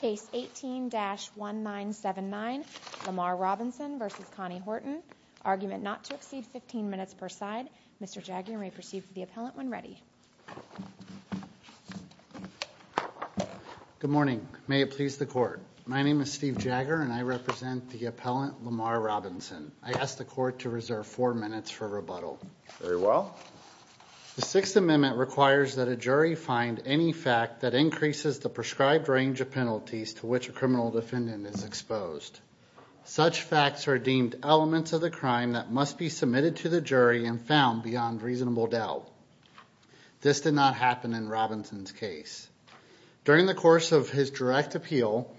Case 18-1979 Lamarr Robinson v. Connie Horton Argument not to exceed 15 minutes per side. Mr. Jagger may proceed to the appellant when ready. Good morning. May it please the court. My name is Steve Jagger and I represent the appellant Lamarr Robinson. I ask the court to reserve four minutes for rebuttal. Very well. The Sixth Amendment requires that a criminal defendant is exposed. Such facts are deemed elements of the crime that must be submitted to the jury and found beyond reasonable doubt. This did not happen in Robinson's case. During the course of his direct appeal,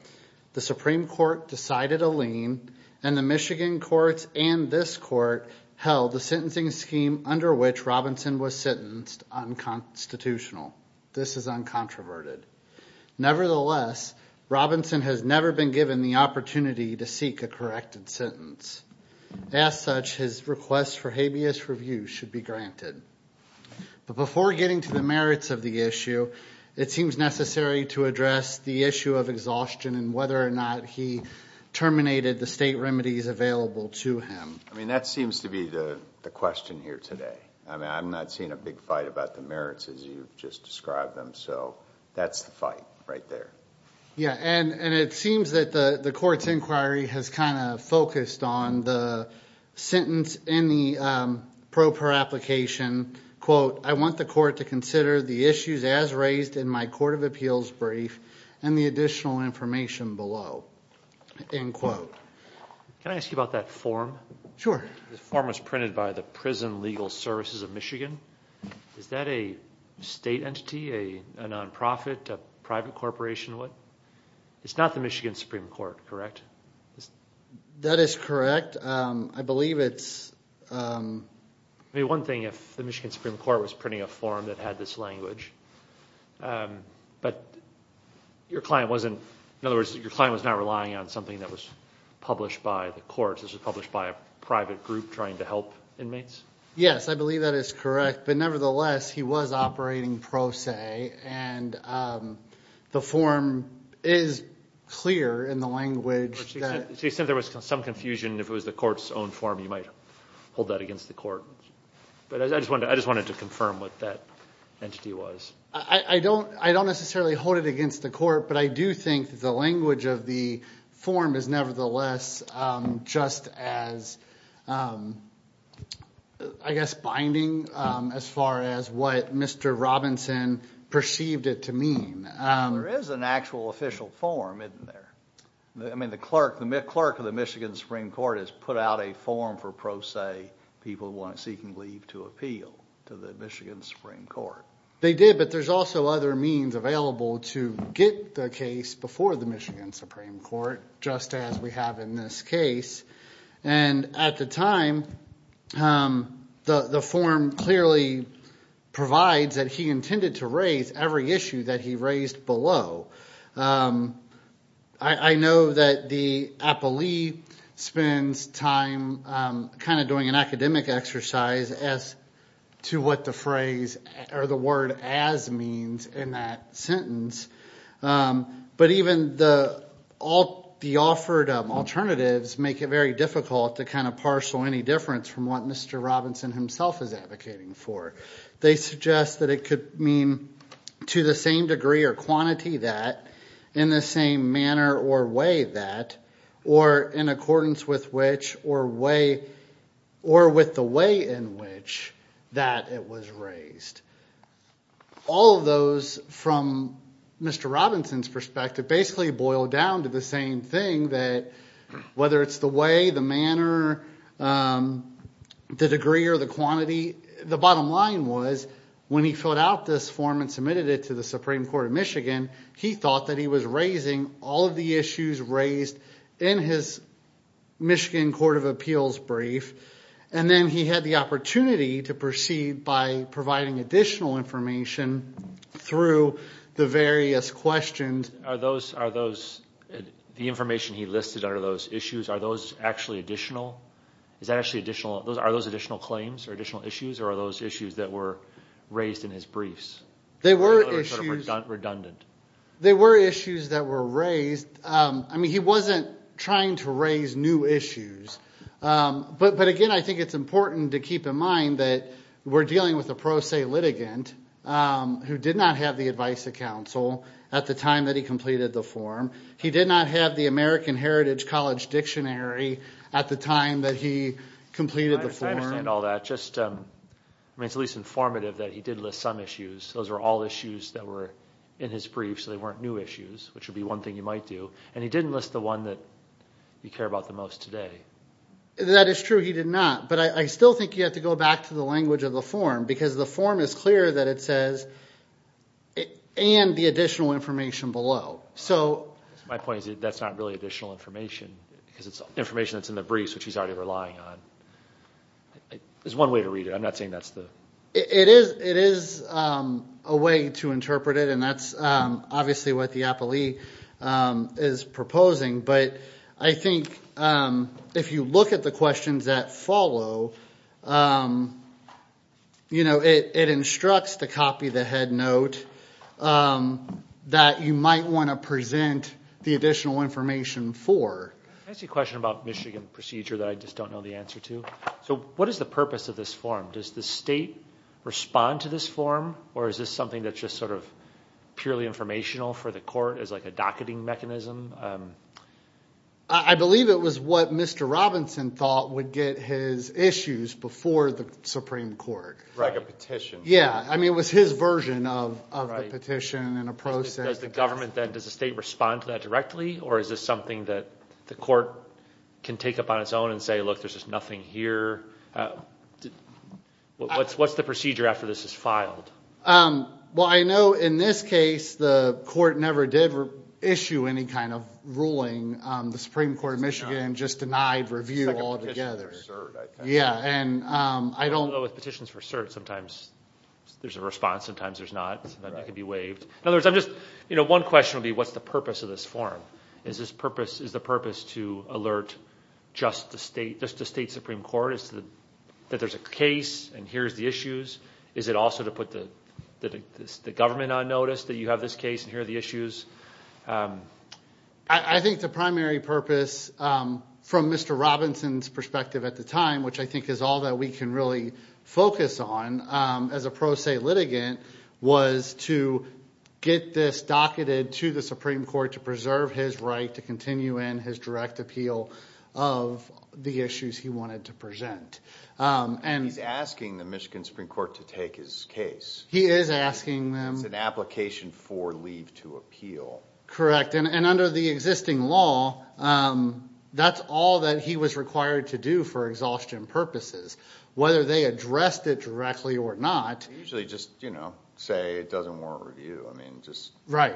the Supreme Court decided a lien and the Michigan courts and this court held the sentencing scheme under which Robinson was sentenced unconstitutional. This is uncontroverted. Nevertheless, Robinson has never been given the opportunity to seek a corrected sentence. As such, his request for habeas review should be granted. But before getting to the merits of the issue, it seems necessary to address the issue of exhaustion and whether or not he terminated the state remedies available to him. I mean that seems to be the the question here today. I mean I'm not seeing a big fight about the merits as you've just described them so that's the fight right there. Yeah and and it seems that the the court's inquiry has kind of focused on the sentence in the pro per application quote I want the court to consider the issues as raised in my court of appeals brief and the additional information below end quote. Can I ask you about that form? Sure. The form was printed by the prison legal services of Michigan. Is that a state entity, a non-profit, a private corporation? It's not the Michigan Supreme Court, correct? That is correct. I believe it's I mean one thing if the Michigan Supreme Court was printing a form that had this language but your client wasn't in other words your client was not relying on something that was published by the courts. This was published by a private group trying to I believe that is correct but nevertheless he was operating pro se and the form is clear in the language. She said there was some confusion if it was the court's own form you might hold that against the court but I just wanted I just wanted to confirm what that entity was. I don't I don't necessarily hold it against the court but I do think the language of the form is nevertheless just as I guess binding as far as what Mr. Robinson perceived it to mean. There is an actual official form isn't there? I mean the clerk the clerk of the Michigan Supreme Court has put out a form for pro se people who want seeking leave to appeal to the Michigan Supreme Court. They did but there's also other means available to get the case before the Michigan Supreme Court just as we have in this case and at the time the the form clearly provides that he intended to raise every issue that he raised below. I know that the appellee spends time kind of doing an academic exercise as to what the phrase or the word as means in that sentence but even the all the offered alternatives make it very difficult to kind of parcel any difference from what Mr. Robinson himself is advocating for. They suggest that it could mean to the same degree or quantity that in the same manner or way that or in accordance with which or way or with the way in which that it was raised. All of those from Mr. Robinson's perspective basically boil down to the same thing that whether it's the way the manner the degree or the quantity the bottom line was when he filled out this form and submitted it to the Supreme Court of Michigan he thought that he was raising all of the issues raised in his Michigan Court of Appeals brief and then he had the opportunity to proceed by providing additional information through the various questions. Are those the information he listed under those issues are those actually additional is that actually additional those are those additional claims or additional issues or are those issues that were raised in his briefs? They were redundant. They were issues that were raised. I mean he wasn't trying to raise new issues but again I think it's important to keep in mind that we're dealing with a pro se litigant who did not have the advice of counsel at the time that he completed the form. He did not have the American Heritage College Dictionary at the time that he completed the form. All that just I mean it's at least informative that he did list some issues those were all issues that were in his brief so they weren't new issues which would be one thing you might do and he didn't list the one that you care about the most today. That is true he did not but I still think you have to go back to the language of the form because the form is clear that it says and the additional information below. So my point is that's not really additional information because it's information that's in the briefs which he's already relying on. There's one way to read it I'm not saying that's the it is it is a way to interpret it and that's obviously what the appellee is proposing but I think if you look at the questions that follow you know it it instructs to copy the head note that you might want to present the additional information for. I see a question about Michigan procedure that I just don't know the answer to. So what is the purpose of this form? Does the state respond to this form or is this something that's just sort of purely informational for the court as a docketing mechanism? I believe it was what Mr. Robinson thought would get his issues before the Supreme Court. Like a petition. Yeah I mean it was his version of of the petition and a process. Does the government then does the state respond to that directly or is this something that the court can take up on its own and say look there's just nothing here? What's the procedure after this is filed? Well I know in this case the court never did issue any kind of ruling. The Supreme Court of Michigan just denied review altogether. Yeah and I don't know with petitions for cert sometimes there's a response sometimes there's not that could be waived. In other words I'm just you know one question would be what's the purpose of this form? Is this purpose is the purpose to alert just the state just the state supreme court is that there's a case and here's the issues? Is it also to put the government on notice that you have this case and here are the issues? I think the primary purpose from Mr. Robinson's perspective at the time which I think is all that we can really focus on as a pro se litigant was to get this docketed to the Supreme Court to preserve his right to continue in his direct appeal of the issues he wanted to present. He's asking the Michigan Supreme Court to take his case. He is asking them. It's an application for leave to appeal. Correct and under the existing law that's all that he was required to do for exhaustion purposes whether they addressed it directly or not. Usually just you know say it doesn't warrant review I mean just right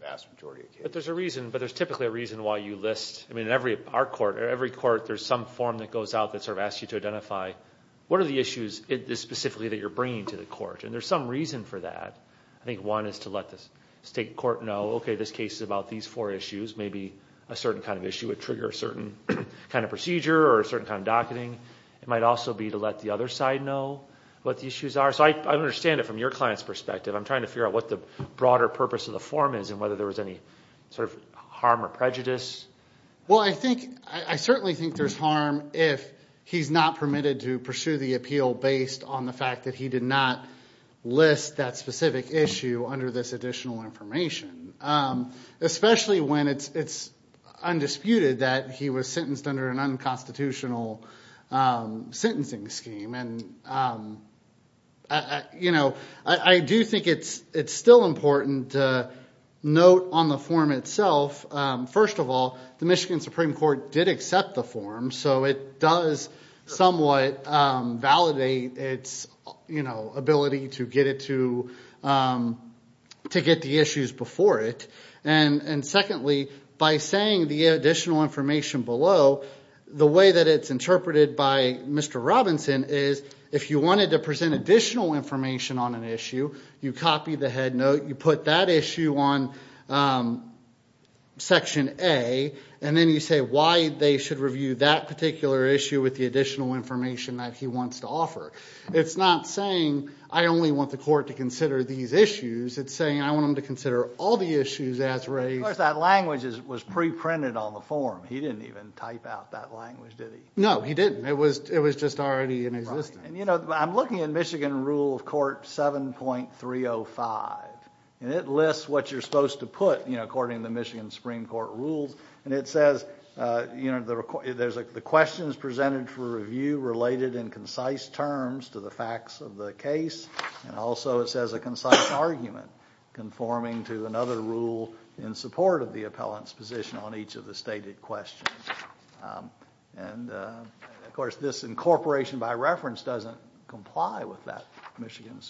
vast majority of cases. But there's a reason but there's typically a reason why you list I mean every our court or every court there's some form that goes out that asks you to identify what are the issues it is specifically that you're bringing to the court and there's some reason for that. I think one is to let the state court know okay this case is about these four issues maybe a certain kind of issue would trigger a certain kind of procedure or a certain kind of docketing. It might also be to let the other side know what the issues are so I understand it from your client's perspective. I'm trying to figure out what the broader purpose of the form is and whether there was any sort of harm or prejudice. Well I think I certainly think there's harm if he's not permitted to pursue the appeal based on the fact that he did not list that specific issue under this additional information. Especially when it's it's undisputed that he was sentenced under an unconstitutional sentencing scheme and you know I do think it's it's still important to note on the form itself. First of all the Michigan Supreme Court did accept the form so it does somewhat validate its you know ability to get it to to get the issues before it and and secondly by saying the additional information below the way that it's interpreted by Mr. Robinson is if you wanted to present additional information on an issue you copy the head note you put that issue on section A and then you say why they should review that particular issue with the additional information that he wants to offer. It's not saying I only want the court to consider these issues it's saying I want them to consider all the issues as raised. Of course that language is was pre-printed on the form he didn't even type out that language did he? No he didn't it was it was just already in existence. And you know I'm looking at Michigan rule of court 7.305 and it lists what you're supposed to put you know according to Michigan Supreme Court rules and it says you know there's the questions presented for review related in concise terms to the facts of the case and also it says a concise argument conforming to another rule in support of the appellant's position on each of the stated questions. And of course this incorporation by reference doesn't comply with that Michigan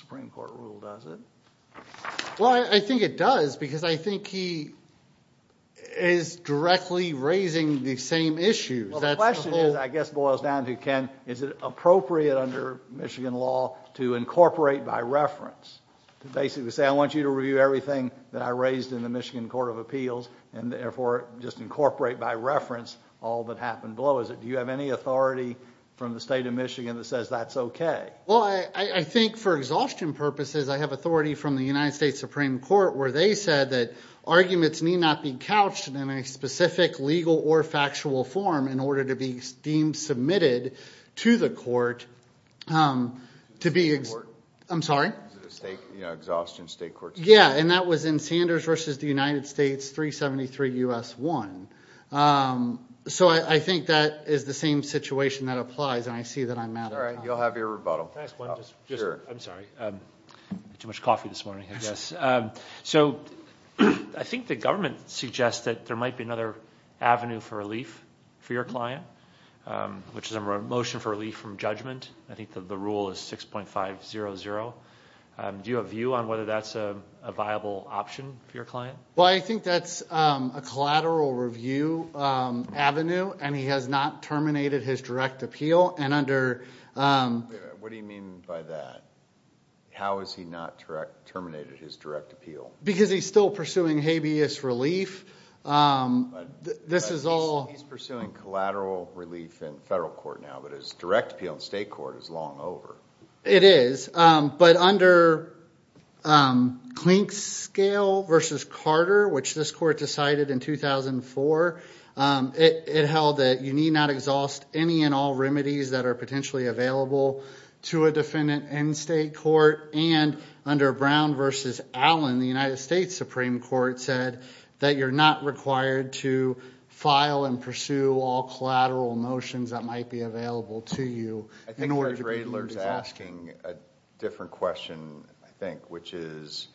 is directly raising the same issues. The question is I guess boils down to Ken is it appropriate under Michigan law to incorporate by reference to basically say I want you to review everything that I raised in the Michigan Court of Appeals and therefore just incorporate by reference all that happened below is it do you have any authority from the state of Michigan that says that's okay? Well I think for exhaustion purposes I have authority from the United States Supreme Court where they said that arguments need not be couched in any specific legal or factual form in order to be deemed submitted to the court to be I'm sorry. State exhaustion state court. Yeah and that was in Sanders versus the United States 373 U.S. 1. So I think that is the same situation that applies and I see that I'm mad. All right you'll have your rebuttal. I'm sorry too much so I think the government suggests that there might be another avenue for relief for your client which is a motion for relief from judgment. I think that the rule is 6.500. Do you have a view on whether that's a viable option for your client? Well I think that's a collateral review avenue and he has not terminated his direct appeal and under. What do you mean by that? How is he not direct appeal? Because he's still pursuing habeas relief. He's pursuing collateral relief in federal court now but his direct appeal in state court is long over. It is but under Klink's scale versus Carter which this court decided in 2004 it held that you need not exhaust any and all remedies that are potentially available to a defendant in state court and under Brown versus Allen the United States Supreme Court said that you're not required to file and pursue all collateral motions that might be available to you. I think Judge Radler's asking a different question I think which is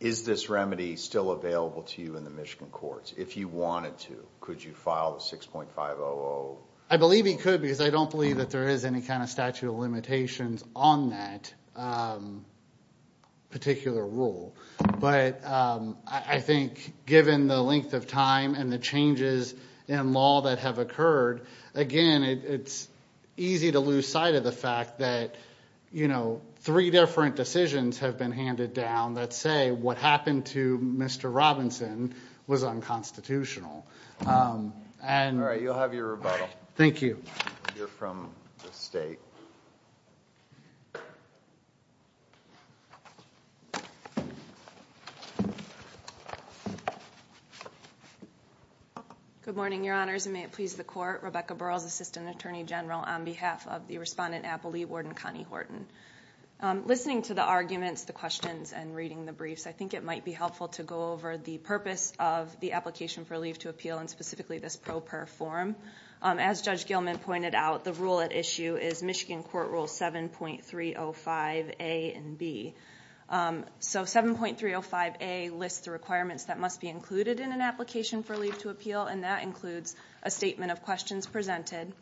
is this remedy still available to you in the Michigan courts? If you wanted to could you file the 6.500? I believe he could because I don't believe that there is any kind of statute of limitations on that particular rule but I think given the length of time and the changes in law that have occurred again it's easy to lose sight of the fact that you know three different decisions have been handed down that say what happened to Mr. Robinson was unconstitutional. All right you'll have your rebuttal. Thank you. You're from the state. Good morning your honors and may it please the court Rebecca Burrell's Assistant Attorney General on behalf of the respondent Apple Lee Warden Connie Horton. Listening to the arguments the questions and reading the briefs I think it might be helpful to go over the purpose of the application for leave to appeal and specifically this pro per form. As Judge Gilman pointed out the rule at issue is Michigan Court Rule 7.305 A and B. So 7.305 A lists the requirements that must be included in an application for leave to appeal and that includes a statement of questions presented,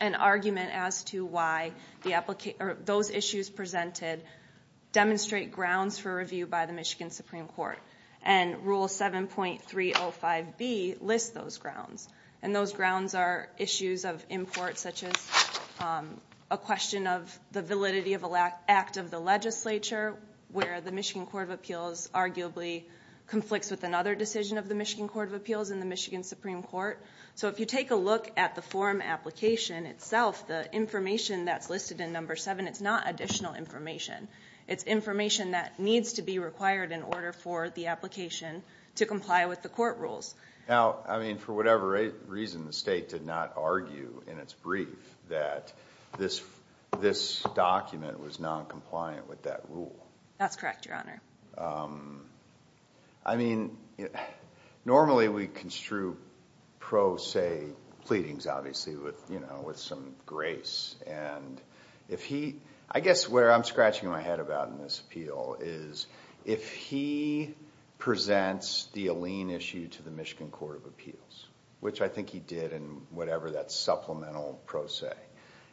an argument as to why the application or those issues presented demonstrate grounds for review by the Supreme Court. And Rule 7.305 B lists those grounds and those grounds are issues of import such as a question of the validity of a lack act of the legislature where the Michigan Court of Appeals arguably conflicts with another decision of the Michigan Court of Appeals in the Michigan Supreme Court. So if you take a look at the forum application itself the information that's listed in number seven it's not additional information it's information that needs to be required in order for the application to comply with the court rules. Now I mean for whatever reason the state did not argue in its brief that this this document was non-compliant with that rule. That's correct your honor. I mean normally we construe pro se pleadings obviously with you know with some grace and if he I guess where I'm scratching my head about in this appeal is if he presents the Alene issue to the Michigan Court of Appeals which I think he did in whatever that supplemental pro se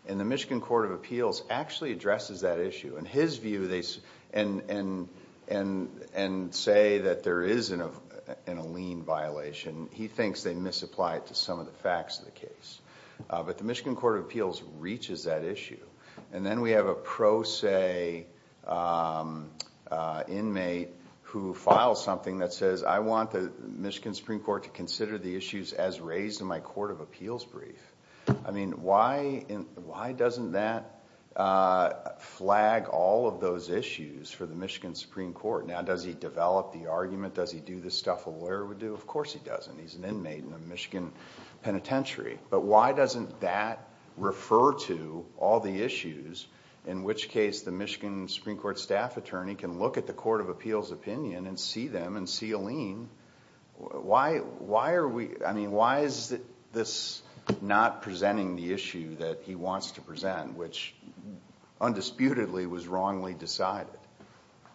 and the Michigan Court of Appeals actually addresses that issue. In his view they and say that there is an Alene violation he thinks they misapply it to some of the facts of the case. But the Michigan Court of Appeals reaches that issue and then we have a pro se inmate who files something that says I want the Michigan Supreme Court to consider the issues as raised in my court of appeals brief. I mean why why doesn't that flag all of those issues for the Michigan Supreme Court? Now does he develop the argument? Does he do the stuff a lawyer would do? Of course he does. Why doesn't that refer to all the issues in which case the Michigan Supreme Court staff attorney can look at the court of appeals opinion and see them and see Alene? Why are we I mean why is this not presenting the issue that he wants to present which undisputedly was wrongly decided?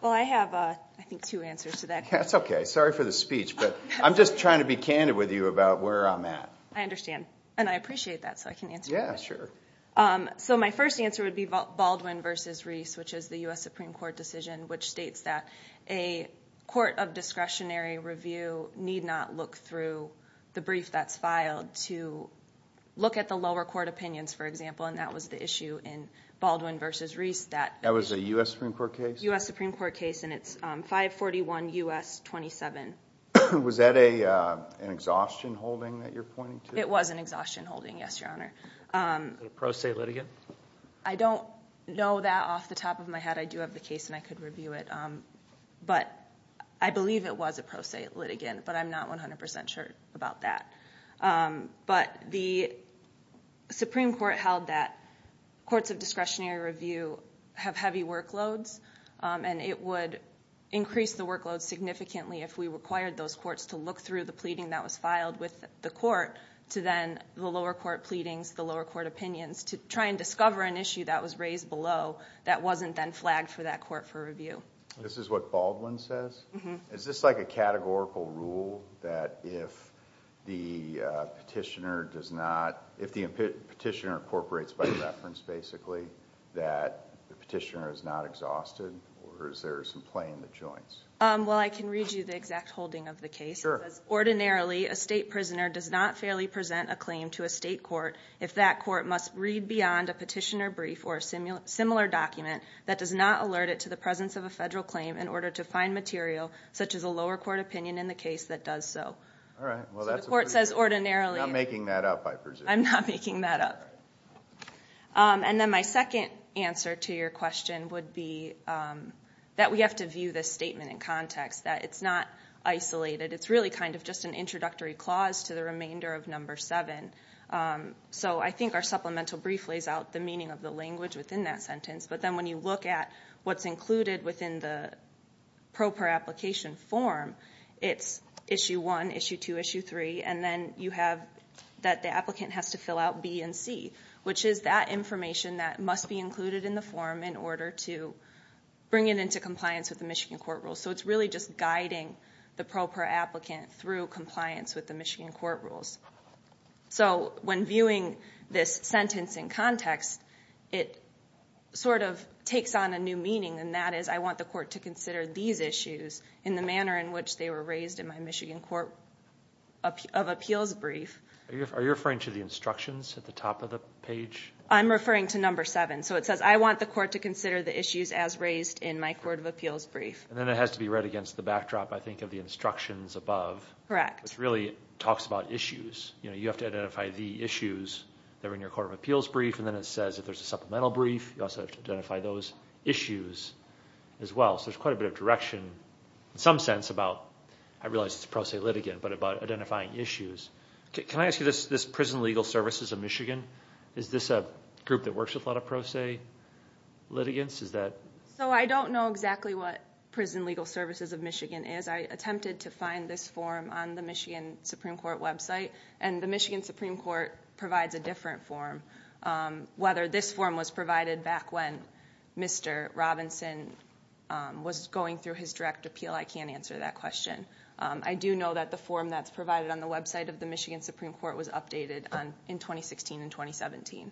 Well I have I think two answers to that. That's okay sorry for the speech but I'm just trying to be that so I can answer. Yeah sure. So my first answer would be Baldwin versus Reese which is the U.S. Supreme Court decision which states that a court of discretionary review need not look through the brief that's filed to look at the lower court opinions for example and that was the issue in Baldwin versus Reese. That was a U.S. Supreme Court case? U.S. Supreme Court case and it's 541 U.S. 27. Was that a an exhaustion holding that you're pointing to? It was an exhaustion holding yes your honor. A pro se litigant? I don't know that off the top of my head I do have the case and I could review it but I believe it was a pro se litigant but I'm not 100% sure about that. But the Supreme Court held that courts of discretionary review have heavy workloads and it would increase the workload significantly if we required those courts to look through the lower court pleadings the lower court opinions to try and discover an issue that was raised below that wasn't then flagged for that court for review. This is what Baldwin says? Is this like a categorical rule that if the petitioner does not if the petitioner incorporates by reference basically that the petitioner is not exhausted or is there some play in the joints? Well I can read you the exact holding of the case. Ordinarily a state prisoner does not fairly present a claim to a state court if that court must read beyond a petitioner brief or a similar document that does not alert it to the presence of a federal claim in order to find material such as a lower court opinion in the case that does so. Alright well that's what the court says ordinarily. I'm not making that up I presume. I'm not making that up. And then my second answer to your question would be that we have to view this statement in context that it's not isolated it's really kind of just an introductory clause to the order of number seven. So I think our supplemental brief lays out the meaning of the language within that sentence but then when you look at what's included within the pro per application form it's issue one, issue two, issue three and then you have that the applicant has to fill out B and C which is that information that must be included in the form in order to bring it into compliance with the Michigan court rules. So it's really just guiding the pro per applicant through compliance with the Michigan court rules. So when viewing this sentence in context it sort of takes on a new meaning and that is I want the court to consider these issues in the manner in which they were raised in my Michigan court of appeals brief. Are you referring to the instructions at the top of the page? I'm referring to number seven so it says I want the court to consider the issues as raised in my court of appeals brief. And then it has to be read against the backdrop I think of the instructions above. Correct. Which really talks about issues you know you have to identify the issues that are in your court of appeals brief and then it says if there's a supplemental brief you also identify those issues as well. So there's quite a bit of direction in some sense about I realize it's pro se litigant but about identifying issues. Can I ask you this prison legal services of Michigan is this a group that works with a lot of pro se litigants is that? So I don't know exactly what prison legal services of Michigan is. I attempted to find this form on the Michigan Supreme Court website and the Michigan Supreme Court provides a different form. Whether this form was provided back when Mr. Robinson was going through his direct appeal I can't answer that question. I do know that the form that's provided on the website of the Michigan Supreme Court was updated on in 2016 and 2017.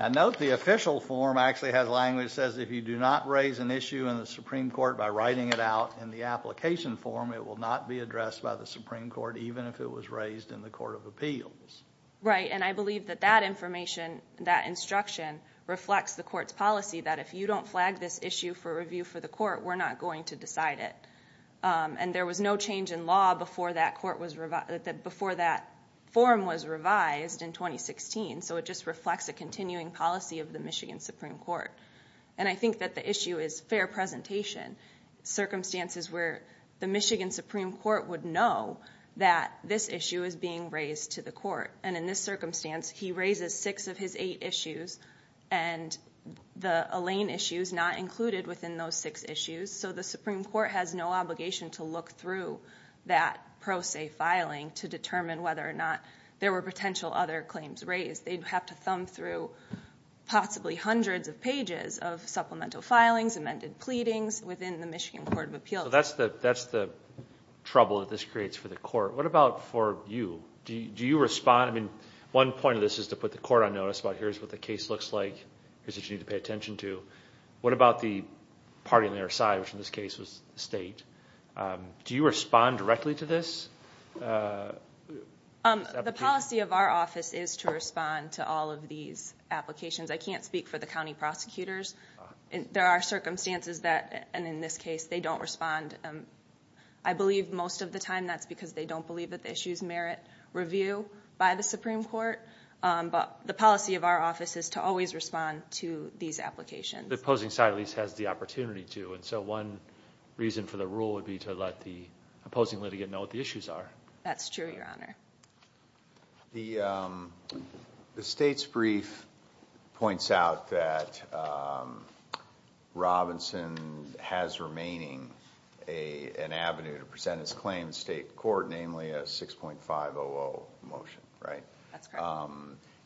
I note the official form actually has language that says if you do not raise an issue in the Supreme Court by writing it out in the application form it will not be addressed by the Supreme Court even if it was raised in the court of appeals. Right and I believe that that information that instruction reflects the court's policy that if you don't flag this issue for review for the court we're not going to decide it. And there was no change in law before that court was revised that before that form was submitted to the Michigan Supreme Court. And I think that the issue is fair presentation. Circumstances where the Michigan Supreme Court would know that this issue is being raised to the court and in this circumstance he raises six of his eight issues and the Elaine issue is not included within those six issues so the Supreme Court has no obligation to look through that pro se filing to determine whether or not there were potential other claims raised. They'd have to thumb through possibly hundreds of pages of supplemental filings, amended pleadings within the Michigan Court of Appeals. So that's the that's the trouble that this creates for the court. What about for you? Do you respond? I mean one point of this is to put the court on notice about here's what the case looks like, here's what you need to pay attention to. What about the party on their side which in this case was the state? Do you respond directly to this? The policy of our office is to respond to all of these applications. I can't speak for the county prosecutors. There are circumstances that and in this case they don't respond. I believe most of the time that's because they don't believe that the issues merit review by the Supreme Court but the policy of our office is to always respond to these applications. The opposing side at least has the opportunity to and so one reason for the rule would be to let the opposing litigant know what the issues are. That's true, your honor. The state's brief points out that Robinson has remaining an avenue to present his claim in state court, namely a 6.500 motion, right?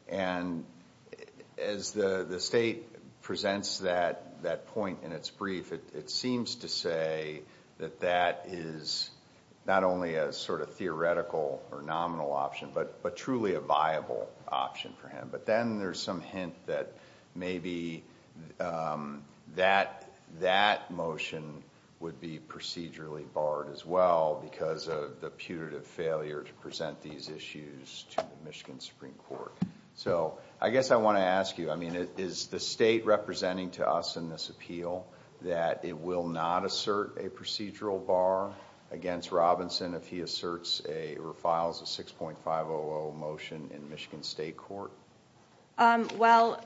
And as the the state presents that that point in its brief, it seems to say that that is not only a sort of theoretical or nominal option but truly a viable option for him. But then there's some hint that maybe that motion would be procedurally barred as well because of the putative failure to present these issues to the Michigan Supreme Court. So I guess I want to ask you, I mean, is the state representing to us in this appeal that it will not assert a procedural bar against Robinson if he asserts or files a 6.500 motion in Michigan State Court? Well,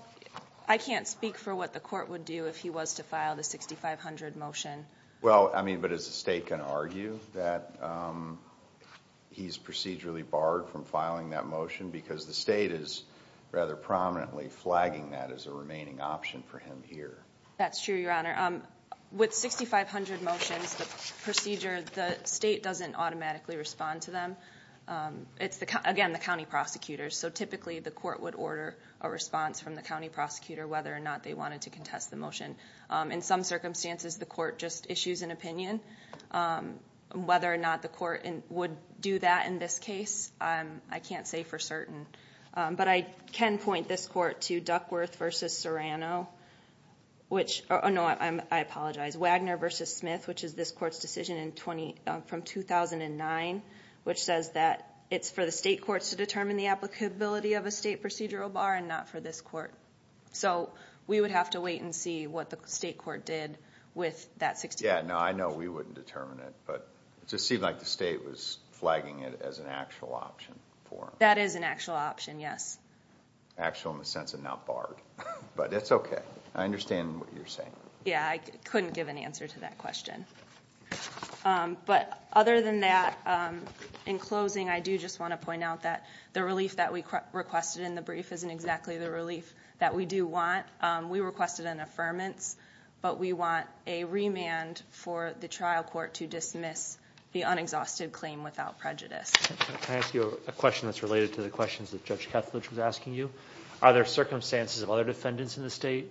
I can't speak for what the court would do if he was to file the 6500 motion. Well, I mean, but is the state going to argue that he's procedurally barred from filing that flagging that as a remaining option for him here? That's true, your honor. With 6500 motions, the procedure, the state doesn't automatically respond to them. It's the, again, the county prosecutors. So typically the court would order a response from the county prosecutor whether or not they wanted to contest the motion. In some circumstances, the court just issues an opinion. Whether or not the court would do that in this case, I can't say for certain. But I can point this court to Duckworth v. Serrano, which, oh no, I apologize, Wagner v. Smith, which is this court's decision from 2009, which says that it's for the state courts to determine the applicability of a state procedural bar and not for this court. So we would have to wait and see what the state court did with that 6500 motion. Yeah, no, I know we wouldn't determine it, but it just seemed like the actual in the sense of not barred. But it's okay. I understand what you're saying. Yeah, I couldn't give an answer to that question. But other than that, in closing, I do just want to point out that the relief that we requested in the brief isn't exactly the relief that we do want. We requested an affirmance, but we want a remand for the trial court to dismiss the unexhausted claim without prejudice. Can I ask you a question that's related to the questions that Judge Kethledge was asking you? Are there circumstances of other defendants in the state,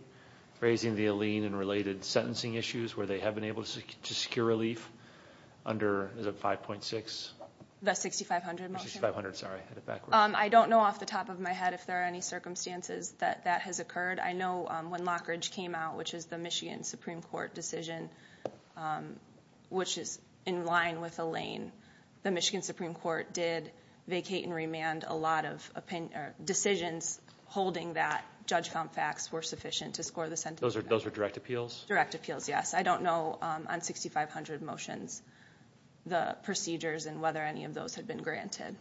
raising the Aleene and related sentencing issues, where they have been able to secure relief under, is it 5.6? The 6500 motion? I don't know off the top of my head if there are any circumstances that that has occurred. I know when Lockridge came out, which is the Michigan Supreme Court decision, which is in line with the opinion, or decisions holding that, Judge found facts were sufficient to score the sentencing. Those are direct appeals? Direct appeals, yes. I don't know on 6500 motions, the procedures and whether any of those had been granted.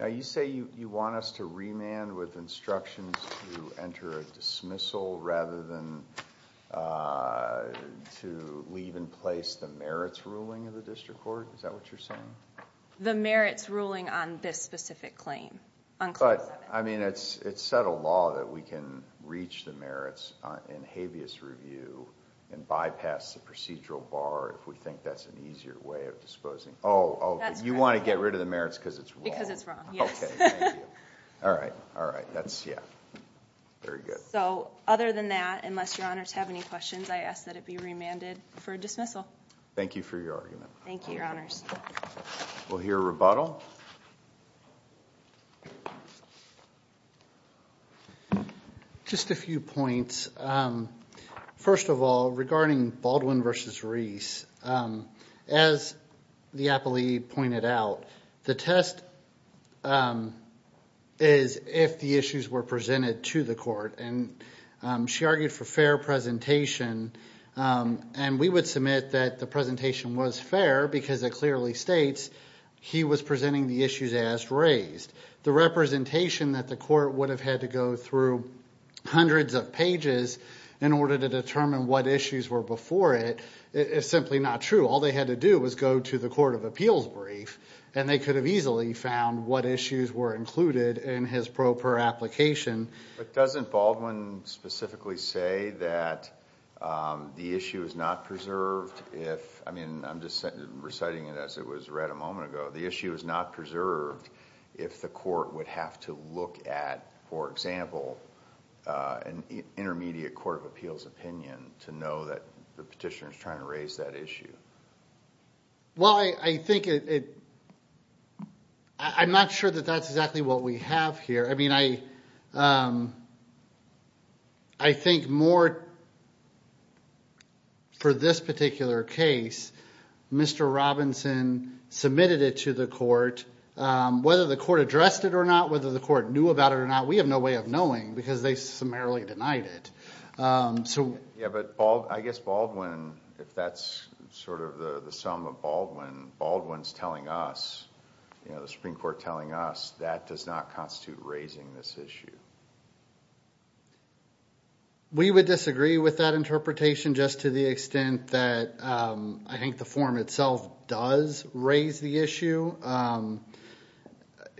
Now you say you want us to remand with instructions to enter a dismissal rather than to leave in place the merits ruling of the district court? Is that what you're asking? The merits ruling on this specific claim. But I mean it's it's set a law that we can reach the merits in habeas review and bypass the procedural bar if we think that's an easier way of disposing. Oh, you want to get rid of the merits because it's wrong? Because it's wrong, yes. All right, all right, that's yeah, very good. So other than that, unless your honors have any questions, I ask that it be remanded for dismissal. Thank you for your argument. Thank you, your honors. We'll hear a rebuttal. Just a few points. First of all, regarding Baldwin versus Reese, as the appellee pointed out, the test is if the issues were presented to the court and she argued for fair presentation and we would submit that the presentation was fair because it clearly states he was presenting the issues as raised. The representation that the court would have had to go through hundreds of pages in order to determine what issues were before it is simply not true. All they had to do was go to the Court of Appeals brief and they could have easily found what issues were included in his proper application. But doesn't Baldwin specifically say that the issue is not preserved if, I mean I'm just reciting it as it was read a moment ago, the issue is not preserved if the court would have to look at, for example, an intermediate Court of Appeals opinion to know that the petitioner is trying to raise that issue? Well, I think it, I'm not sure that that's exactly what we have here. I mean, I think more for this particular case, Mr. Robinson submitted it to the court. Whether the court addressed it or not, whether the court knew about it or not, we have no way of knowing because they have not summarily denied it. Yeah, but I guess Baldwin, if that's sort of the sum of Baldwin, Baldwin's telling us, you know, the Supreme Court telling us that does not constitute raising this issue. We would disagree with that interpretation just to the extent that I think the form itself does raise the issue, you know.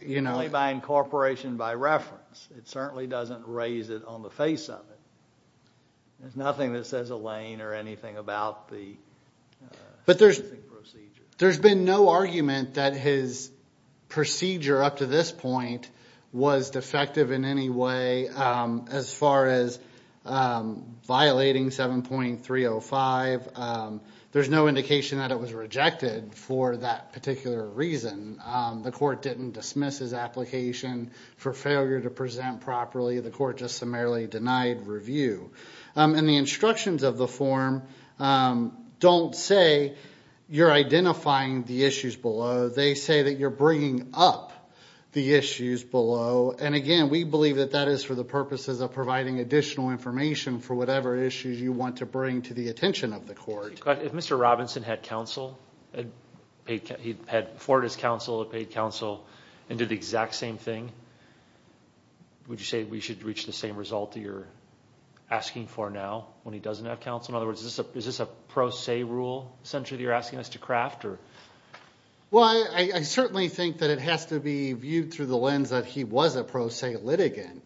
Certainly by incorporation, by reference, it certainly doesn't raise it on the face of it. There's nothing that says a lane or anything about the procedure. But there's been no argument that his procedure up to this point was defective in any way as far as violating 7.305. There's no indication that it was a misapplication for failure to present properly. The court just summarily denied review. And the instructions of the form don't say you're identifying the issues below. They say that you're bringing up the issues below. And again, we believe that that is for the purposes of providing additional information for whatever issues you want to bring to the attention of the court. If Mr. Robinson had counsel, he had afforded his counsel, paid counsel, and did the exact same thing, would you say we should reach the same result that you're asking for now when he doesn't have counsel? In other words, is this a pro se rule, essentially, that you're asking us to craft? Well, I certainly think that it has to be viewed through the lens that he was a pro se litigant.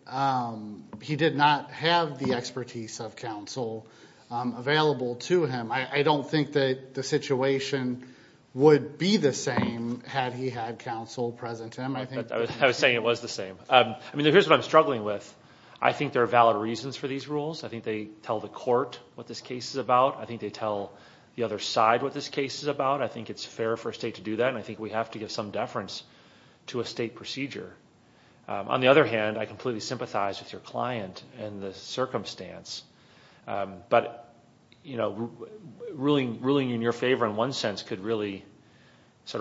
He did not have the expertise of counsel available to him. I don't think that the situation would be the same had he had counsel present to him. I was saying it was the same. I mean, here's what I'm struggling with. I think there are valid reasons for these rules. I think they tell the court what this case is about. I think they tell the other side what this case is about. I think it's fair for a state to do that. I think we have to give some deference to a state procedure. On the other hand, I completely sympathize with your client and the circumstance, but ruling in your favor in one sense could really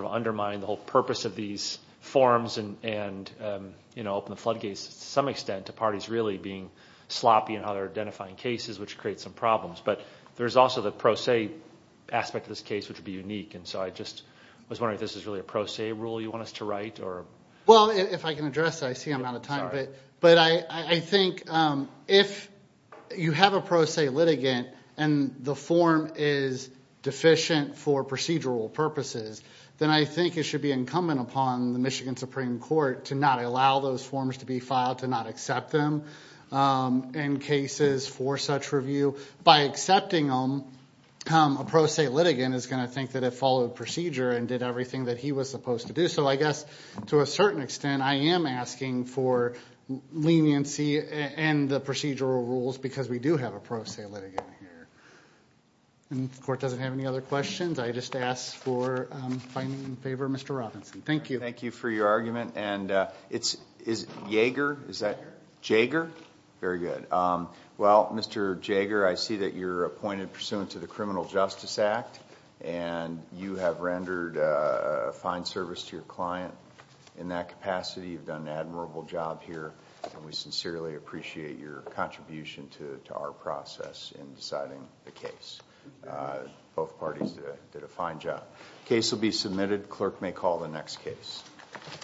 undermine the whole purpose of these forms and open the floodgates to some extent to parties really being sloppy in how they're identifying cases, which creates some problems. But there's also the pro se aspect of this case, which would be unique. I was wondering if this is really a pro se rule you want us to write? Well, if I can address it, I see I'm out of time. But I think if you have a pro se litigant and the form is deficient for procedural purposes, then I think it should be incumbent upon the Michigan Supreme Court to not allow those forms to be filed, to not accept them in cases for such review. By accepting them, a pro se litigant is going to think that it followed procedure and did everything that he was supposed to do. So I guess to a certain extent, I am asking for leniency and the procedural rules because we do have a pro se litigant here. And if the court doesn't have any other questions, I just ask for finding in favor of Mr. Robinson. Thank you. Thank you for your argument. And it's Jaeger? Very good. Well, Mr. Jaeger, I see that you're appointed pursuant to the Criminal Justice Act. And you have rendered a fine service to your client in that capacity. You've done an admirable job here, and we sincerely appreciate your contribution to our process in deciding the case. Both parties did a fine job. Case will be submitted. Clerk may call the next case.